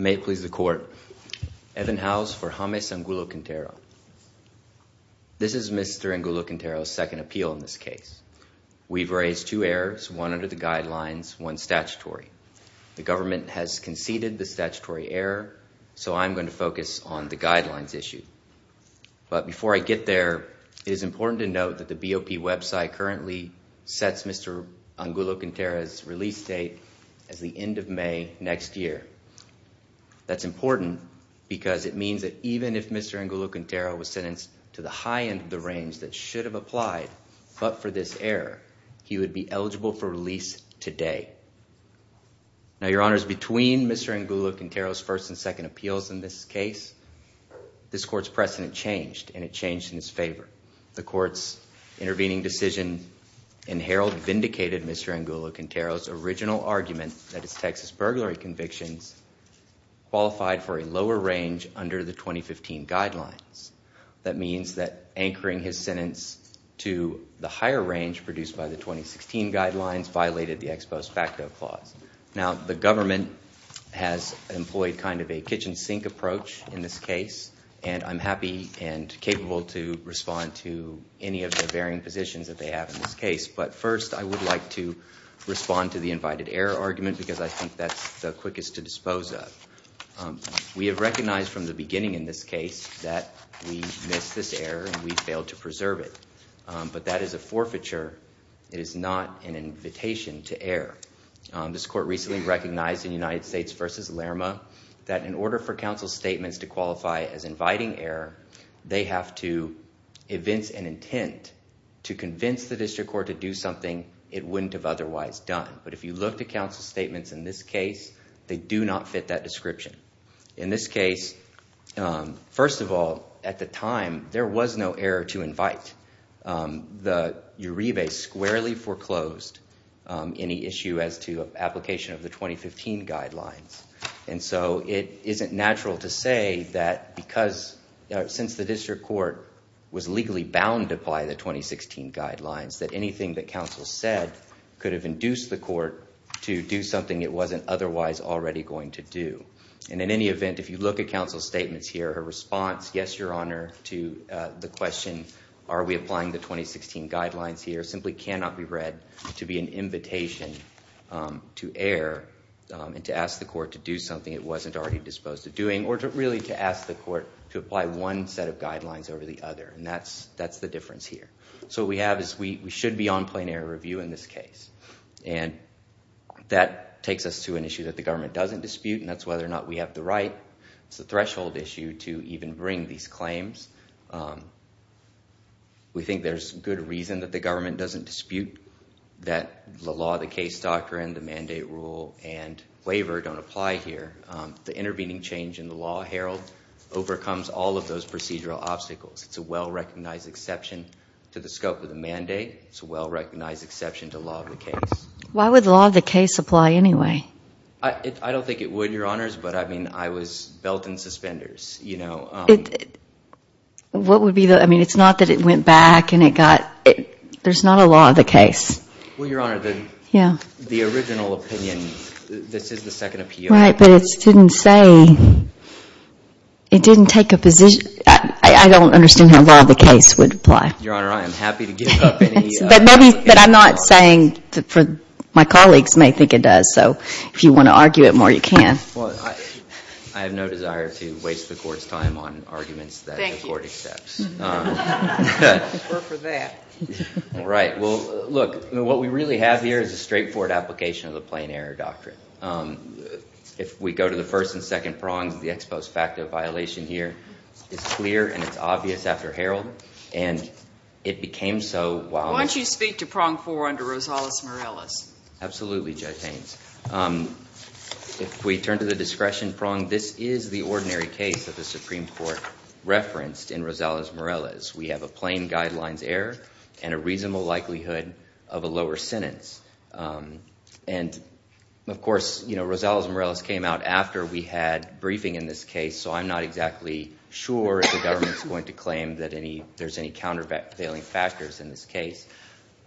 May it please the court. Evan Howes for James Angulo Quintero. This is Mr. Angulo Quintero's second appeal in this case. We've raised two errors, one under the guidelines, one statutory. The government has conceded the statutory error, so I'm going to focus on the guidelines issue. But before I get there, it is important to note that the BOP website currently sets Mr. Angulo Quintero's release date as the end of May next year. That's important because it means that even if Mr. Angulo Quintero was sentenced to the high end of the range that should have applied, but for this error, he would be eligible for release today. Now your honors, between Mr. Angulo Quintero's first and second appeals in this case, this court's precedent changed and it changed in his favor. The court's intervening decision in Herald vindicated Mr. Angulo Quintero's original argument that his Texas burglary convictions qualified for a lower range under the 2015 guidelines. That means that anchoring his sentence to the higher range produced by the 2016 guidelines violated the ex post facto clause. Now the government has employed kind of a kitchen sink approach in this case, and I'm happy and capable to respond to any of the varying positions that they have in this case, but first I would like to respond to the invited error argument because I think that's the quickest to dispose of. We have recognized from the beginning in this case that we missed this error and we failed to preserve it, but that is a forfeiture. It is not an invitation to error. This court recently recognized in United States v. Lerma that in order for counsel statements to qualify as inviting error, they have to evince an intent to convince the district court to do something it wouldn't have otherwise done. But if you look to counsel statements in this case, they do not fit that description. In this case, first of all, at the time there was no error to invite. The Uribe squarely foreclosed any issue as to application of the 2015 guidelines, and so it isn't natural to say that because since the district court was legally bound to apply the 2016 guidelines that anything that counsel said could have induced the court to do something it wasn't otherwise already going to do. And in any event, if you look at counsel statements here, her response, yes, your honor, to the question, are we applying the 2016 guidelines here, simply cannot be read to be an invitation to error and to ask the court to do something it wasn't already disposed of doing or to really to ask the court to apply one set of guidelines over the other, and that's the difference here. So what we have is we should be on review in this case, and that takes us to an issue that the government doesn't dispute, and that's whether or not we have the right. It's a threshold issue to even bring these claims. We think there's good reason that the government doesn't dispute that the law, the case doctrine, the mandate rule, and waiver don't apply here. The intervening change in the law, Harold, overcomes all of those procedural obstacles. It's a well-recognized exception to the scope of the mandate. It's a well-recognized exception to the law of the case. Why would the law of the case apply anyway? I don't think it would, your honors, but I mean, I was belt and suspenders, you know. What would be the, I mean, it's not that it went back and it got, there's not a law of the case. Well, your honor, the original opinion, this is the second appeal. Right, but it didn't say, it didn't take a position. I don't understand how law of the case would apply. Your honor, I am happy to give up any. But maybe, but I'm not saying, for my colleagues may think it does, so if you want to argue it more, you can. Well, I have no desire to waste the court's time on arguments that the court accepts. Thank you. We're for that. Right, well, look, what we really have here is a straightforward application of the plain error doctrine. If we go to the first and second prongs, the ex post facto violation here is clear and it's obvious after Harold, and it became so. Why don't you speak to prong four under Rosales-Morales? Absolutely, Judge Haynes. If we turn to the discretion prong, this is the ordinary case of the Supreme Court referenced in Rosales-Morales. We have a plain guidelines error and a reasonable likelihood of a lower sentence. And of I'm not exactly sure if the government's going to claim that there's any countervailing factors in this case,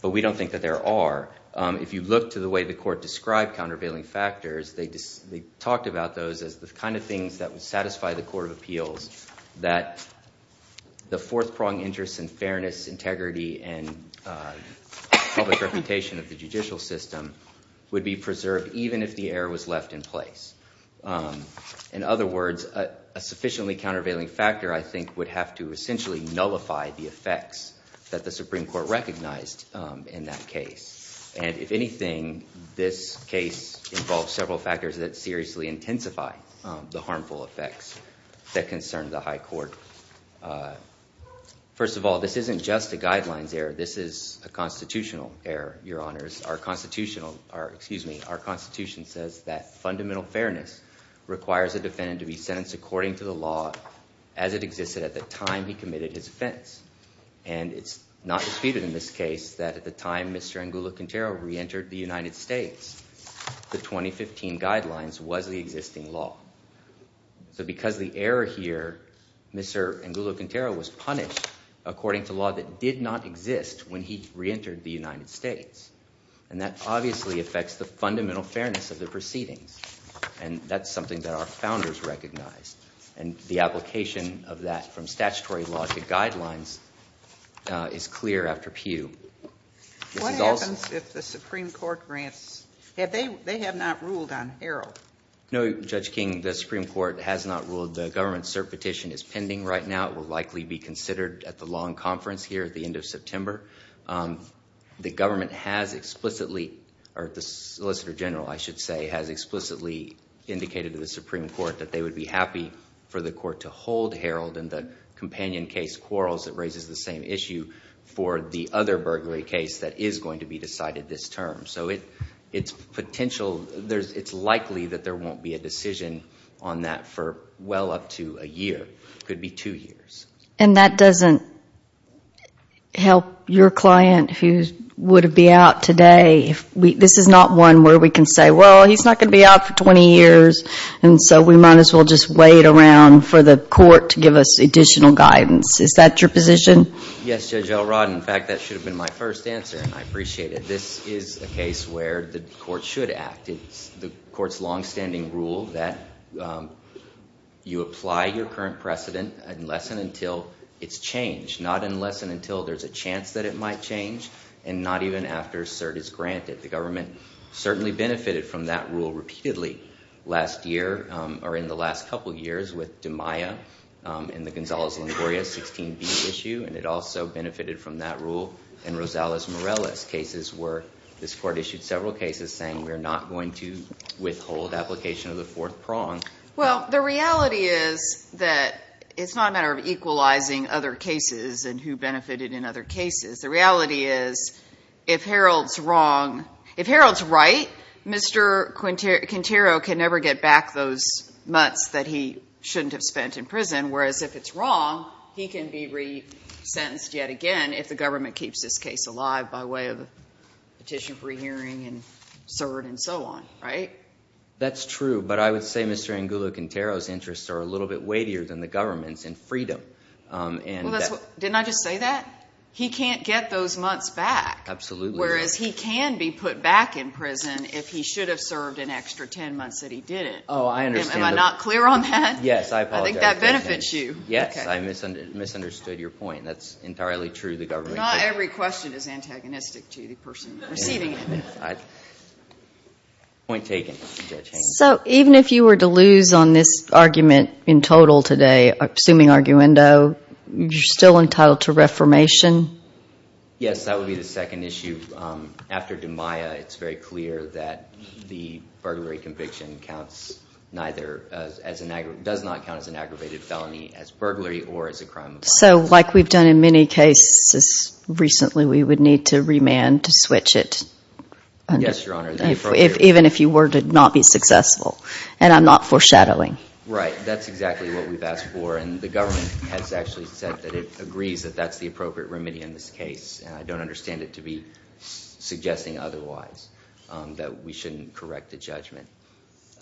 but we don't think that there are. If you look to the way the court described countervailing factors, they talked about those as the kind of things that would satisfy the court of appeals, that the fourth prong interest in fairness, integrity, and public reputation of the judicial system would be preserved even if the error was left in place. In other words, a sufficiently countervailing factor, I think, would have to essentially nullify the effects that the Supreme Court recognized in that case. And if anything, this case involves several factors that seriously intensify the harmful effects that concern the high court. First of all, this isn't just a guidelines error. This is a Our Constitution says that fundamental fairness requires a defendant to be sentenced according to the law as it existed at the time he committed his offense. And it's not disputed in this case that at the time Mr. Angulo-Quintero reentered the United States, the 2015 guidelines was the existing law. So because the error here, Mr. Angulo-Quintero was punished according to law that did not exist when he That obviously affects the fundamental fairness of the proceedings. And that's something that our founders recognized. And the application of that from statutory law to guidelines is clear after Pew. What happens if the Supreme Court grants, if they have not ruled on error? No, Judge King, the Supreme Court has not ruled. The government cert petition is pending right now. It will likely be considered at the conference here at the end of September. The government has explicitly, or the Solicitor General, I should say, has explicitly indicated to the Supreme Court that they would be happy for the court to hold Harold and the companion case, Quarles, that raises the same issue for the other burglary case that is going to be decided this term. So it's potential, it's likely that there won't be a decision on that for well up to a year. It could be two years. And that doesn't help your client who would be out today. This is not one where we can say, well, he's not going to be out for 20 years. And so we might as well just wait around for the court to give us additional guidance. Is that your position? Yes, Judge Elrod. In fact, that should have been my first answer. I appreciate it. This is a case where the court should act. It's the court's current precedent, unless and until it's changed. Not unless and until there's a chance that it might change, and not even after cert is granted. The government certainly benefited from that rule repeatedly last year, or in the last couple years, with DiMaia and the Gonzales-Longoria 16B issue. And it also benefited from that rule in Rosales-Morales cases where this court issued several cases saying we're not going to withhold application of the fourth prong. Well, the reality is that it's not a matter of equalizing other cases and who benefited in other cases. The reality is, if Harold's right, Mr. Quintero can never get back those months that he shouldn't have spent in prison, whereas if it's wrong, he can be re-sentenced yet again if the government keeps this case alive by way of a petition for a hearing and cert and so on, right? That's true, but I would say Mr. Angulo Quintero's interests are a little bit weightier than the government's in freedom. Well, didn't I just say that? He can't get those months back, whereas he can be put back in prison if he should have served an extra 10 months that he didn't. Am I not clear on that? I think that benefits you. Yes, I misunderstood your point. That's entirely true. Not every question is antagonistic to the person receiving it. Point taken, Judge Haynes. So even if you were to lose on this argument in total today, assuming arguendo, you're still entitled to reformation? Yes, that would be the second issue. After DiMaia, it's very clear that the burglary conviction does not count as an aggravated felony as burglary or as a crime of violence. So like we've done in many cases recently, we would need to remand to switch it, even if you were to not be successful. And I'm not foreshadowing. Right, that's exactly what we've asked for, and the government has actually said that it agrees that that's the appropriate remedy in this case. And I don't understand it to be suggesting otherwise, that we shouldn't correct the judgment. Do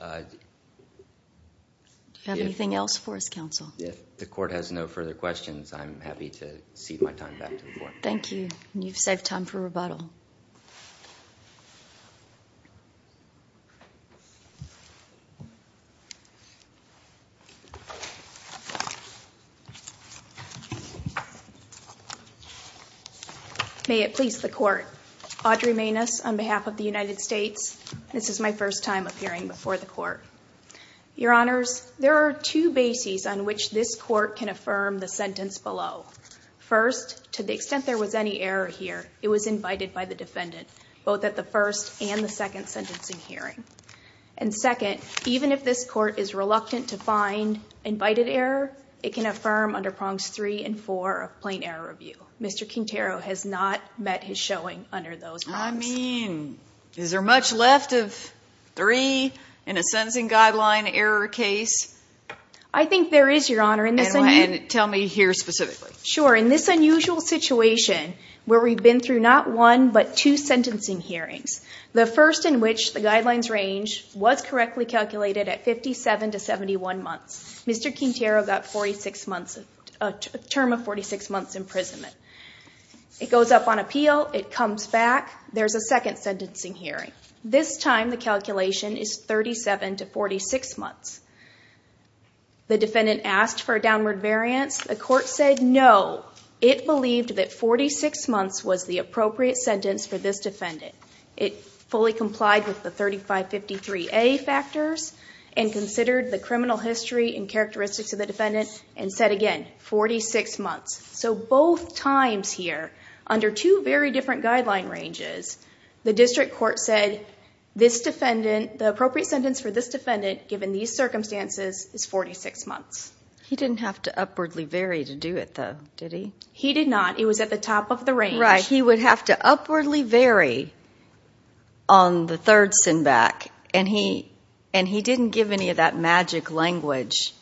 you have anything else for us, counsel? If the court has no further questions, I'm happy to cede my time back to the court. Thank you, and you've saved time for rebuttal. May it please the court. Audrey Maness on behalf of the United States. This is my first time appearing before the court. Your honors, there are two bases on which this court can affirm the sentence below. First, to the extent there was any error here, it was invited by the defendant, both at the first and the second sentencing hearing. And second, even if this court is reluctant to find invited error, it can affirm under prongs three and four of plain error review. Mr. Quintero has not met his showing under those prongs. I mean, is there much left of three in a sentencing guideline error case? I think there is, your honor. And tell me here specifically. Sure. In this unusual situation where we've been through not one but two sentencing hearings, the first in which the guidelines range was correctly calculated at 57 to 71 months, Mr. Quintero got a term of 46 months imprisonment. It goes up on appeal. It comes back. There's a second sentencing hearing. This time the calculation is 37 to 46 months. The defendant asked for a downward variance. The court said no. It believed that 46 months was the appropriate sentence for this defendant. It fully complied with the 3553A factors and considered the criminal history and characteristics of the defendant and said again, 46 months. So both times here under two very different guideline ranges, the district court said this defendant, the appropriate sentence for this defendant given these circumstances is 46 months. He didn't have to upwardly vary to do it though, did he? He did not. It was at the top of the range. Right. He would have to upwardly vary on the third send back and he didn't give any of that magic language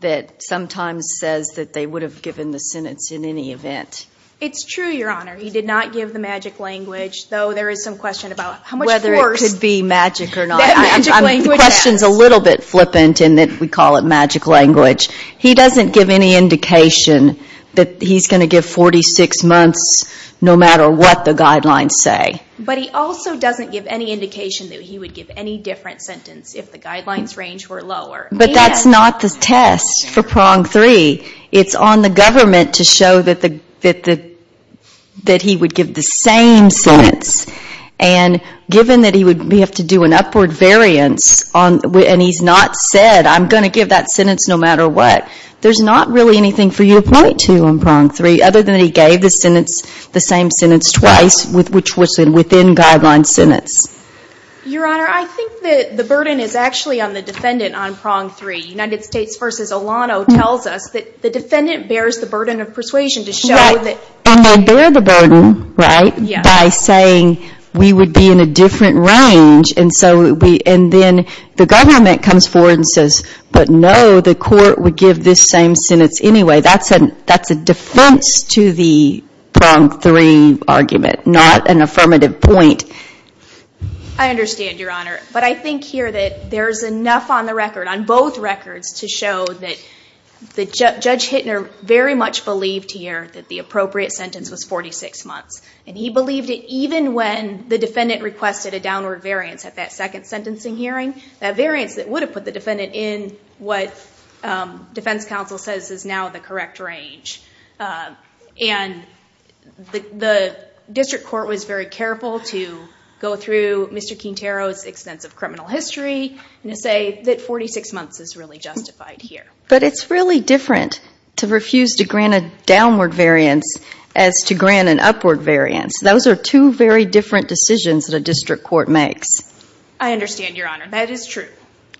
that sometimes says that they would have given the sentence in any event. It's true, Your Honor. He did not give the magic language, though there is some question about how much worse... Whether it could be magic or not. That magic language, yes. The question's a little bit flippant in that we call it magic language. He doesn't give any indication that he's going to give 46 months no matter what the guidelines say. But he also doesn't give any indication that he would give any different sentence if the guidelines range were lower. But that's not the test for prong three. It's on the government to show that he would give the same sentence. And given that he would have to do an upward variance and he's not said, I'm going to give that sentence no matter what, there's not really anything for you to point to in prong three other than he gave the same sentence twice which was within guideline sentence. Your Honor, I think that the burden is actually on the defendant on prong three. United States v. Olano tells us that the defendant bears the burden of persuasion to show that... And they bear the burden, right, by saying we would be in a different range. And then the government comes forward and says, but no, the court would give this same sentence anyway. That's a defense to the prong three argument, not an affirmative point. I understand, Your Honor. But I think here that there's enough on the record, on both records, to show that Judge Hittner very much believed here that the appropriate sentence was 46 months. And he believed it even when the defendant requested a downward variance at that second sentencing hearing. That variance that would have put the defendant in what defense counsel says is now the correct range. And the district court was very careful to go through Mr. Quintero's extensive criminal history and to say that 46 months is really justified here. But it's really different to refuse to grant a downward variance as to grant an upward variance. Those are two very different decisions that a district court makes. I understand, Your Honor. That is true.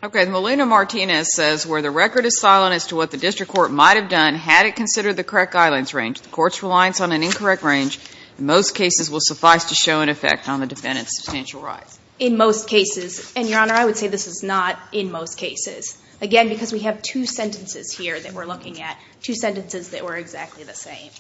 Okay. Melina Martinez says, where the record is silent as to what the district court might have done had it considered the correct guidance range, the court's reliance on an incorrect range in most cases will suffice to show an effect on the defendant's substantial rights. In most cases. And, Your Honor, I would say this is not in most cases. Again, because we have two sentences here that we're looking at, two sentences that were exactly the same.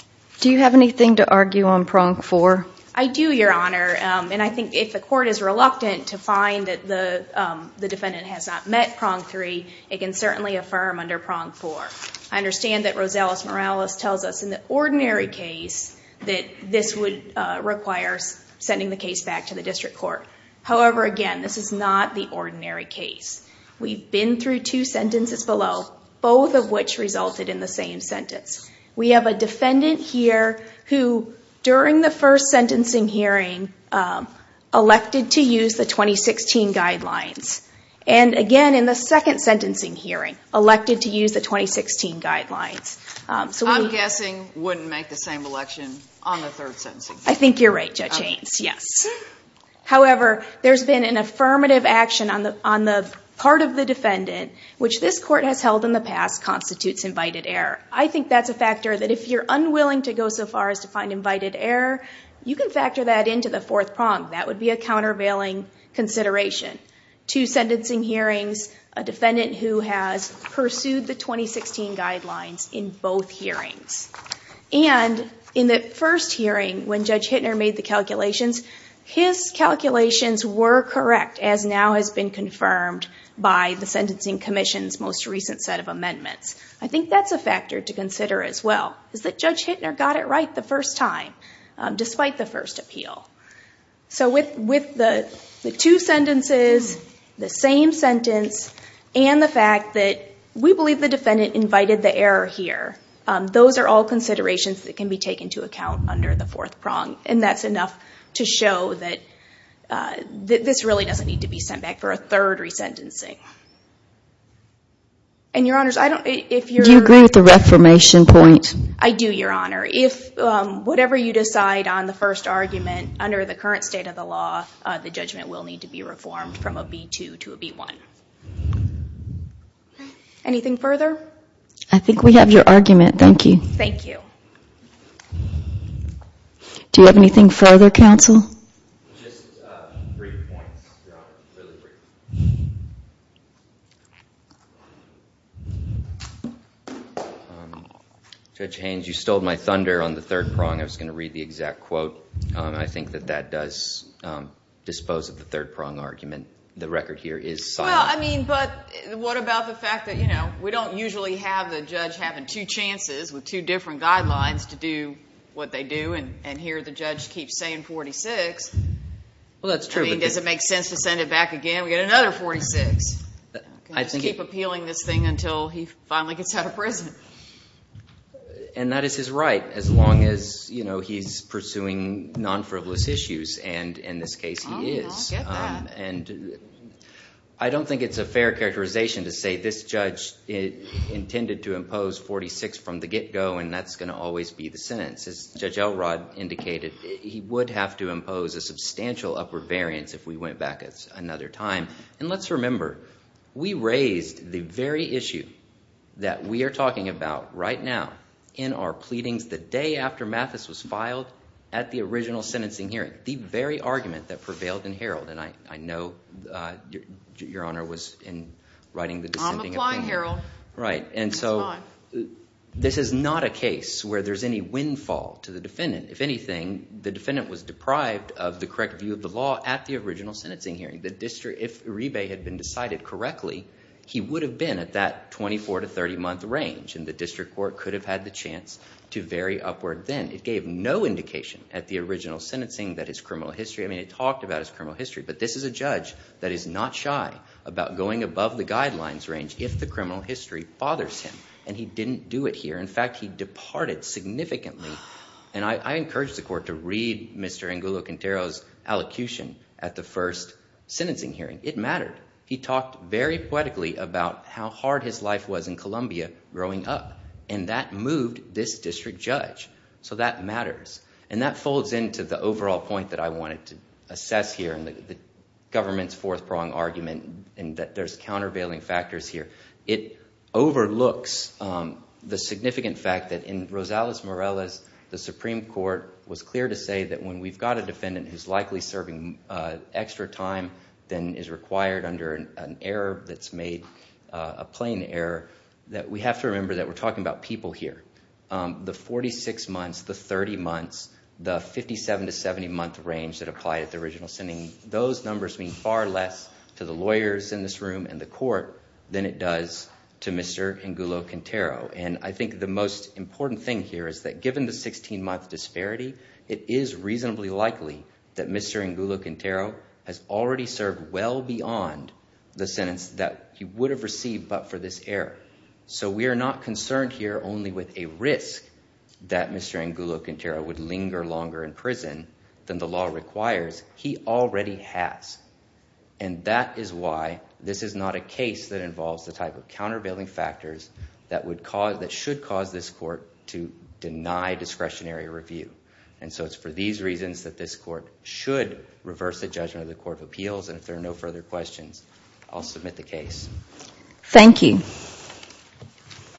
Do you have anything to argue on prong four? I do, Your Honor. And I think if the court is reluctant to find that the defendant has not met prong three, it can certainly affirm under prong four. I understand that Rosales Morales tells us in the ordinary case that this would require sending the case back to the district court. However, again, this is not the ordinary case. We've been through two sentences below, both of which resulted in the same sentence. We have a defendant here who, during the first sentencing hearing, elected to use the 2016 guidelines. And again, in the second sentencing hearing, elected to use the 2016 guidelines. I'm guessing wouldn't make the same election on the third sentencing. I think you're right, Judge Ains. Yes. However, there's been an affirmative action on the part of the defendant, which this court has held in the past, constitutes invited error. I think that's a factor that if you're unwilling to go so far as to find invited error, you can factor that into the fourth prong. That would be a countervailing consideration. Two sentencing hearings, a defendant who has pursued the 2016 guidelines in both hearings. And in the first hearing, when Judge Hittner made the calculations, his calculations were correct, as now has been confirmed by the Sentencing Commission's most recent set of amendments. I think that's a factor to consider as well, is that Judge Hittner got it right the first time, despite the first appeal. So with the two sentences, the same sentence, and the fact that we believe the defendant invited the error here, those are all considerations that can be taken to account under the fourth prong. And that's enough to show that this really doesn't need to be sent back for a third resentencing. And Your Honors, I don't... Do you agree with the reformation point? I do, Your Honor. Whatever you decide on the first argument, under the current state of the law, the judgment will need to be reformed from a B2 to a B1. Anything further? I think we have your argument. Thank you. Thank you. Do you have anything further, counsel? Just three points, Your Honor. Really brief. Judge Haynes, you stole my thunder on the third prong. I was going to read the exact quote. I think that that does dispose of the third prong argument. The record here is silent. Well, I mean, but what about the fact that, you know, we don't usually have the judge having two chances with two different guidelines to do what they do. And here the judge keeps saying 46. Well, that's true. I mean, does it make sense to send it back again? We've got another 46. I think... Can't just keep appealing this thing until he finally gets out of prison. And that is his right, as long as, you know, he's pursuing non-frivolous issues. And in this case, he is. I'll get that. And I don't think it's a fair characterization to say this judge intended to impose 46 from the get-go, and that's going to always be the sentence. As Judge Elrod indicated, he would have to impose a substantial upward variance if we went back another time. And let's remember, we raised the very issue that we are talking about right now in our pleadings the day after Mathis was filed at the original sentencing hearing. The very argument that prevailed in Herald. And I know your Honor was in writing the dissenting opinion. I'm applying, Harold. Right. And so this is not a case where there's any windfall to the defendant. If anything, the defendant was deprived of the correct view of the law at the original sentencing hearing. The district, if Uribe had been decided correctly, he would have been at that 24 to 30 month range. And the district court could have had the chance to vary upward then. It gave no indication at the original sentencing that his criminal history. I mean, it talked about his criminal history. But this is a judge that is not shy about going above the guidelines range if the criminal history bothers him. And he didn't do it here. In fact, he departed significantly. And I encourage the court to read Mr. Angulo-Quintero's allocution at the first sentencing hearing. It mattered. He talked very poetically about how hard his life was in Colombia growing up. And that moved this district judge. So that matters. And that folds into the overall point that I wanted to assess here in the government's fourth prong argument and that there's countervailing factors here. It overlooks the significant fact that in Rosales-Morales, the Supreme Court was clear to say that when we've got a defendant who's likely serving extra time than is required under an error that's made, a plain error, that we have to remember that we're talking about people here. The 46 months, the 30 months, the 57 to 70 month range that applied at the original sentencing, those numbers mean far less to the lawyers in this room and the court than it does to Mr. Angulo-Quintero. And I think the most important thing here is that given the 16-month disparity, it is reasonably likely that Mr. Angulo-Quintero has already served well beyond the sentence that he would have received but for this error. So we are not concerned here only with a risk that Mr. Angulo-Quintero would linger longer in prison than the law requires. He already has. And that is why this is not a case that involves the type of countervailing factors that would cause, that should cause this court to deny discretionary review. And so it's for these reasons that this court should reverse the judgment of the Court of Appeals. And if there are no further questions, I'll submit the case. Thank you.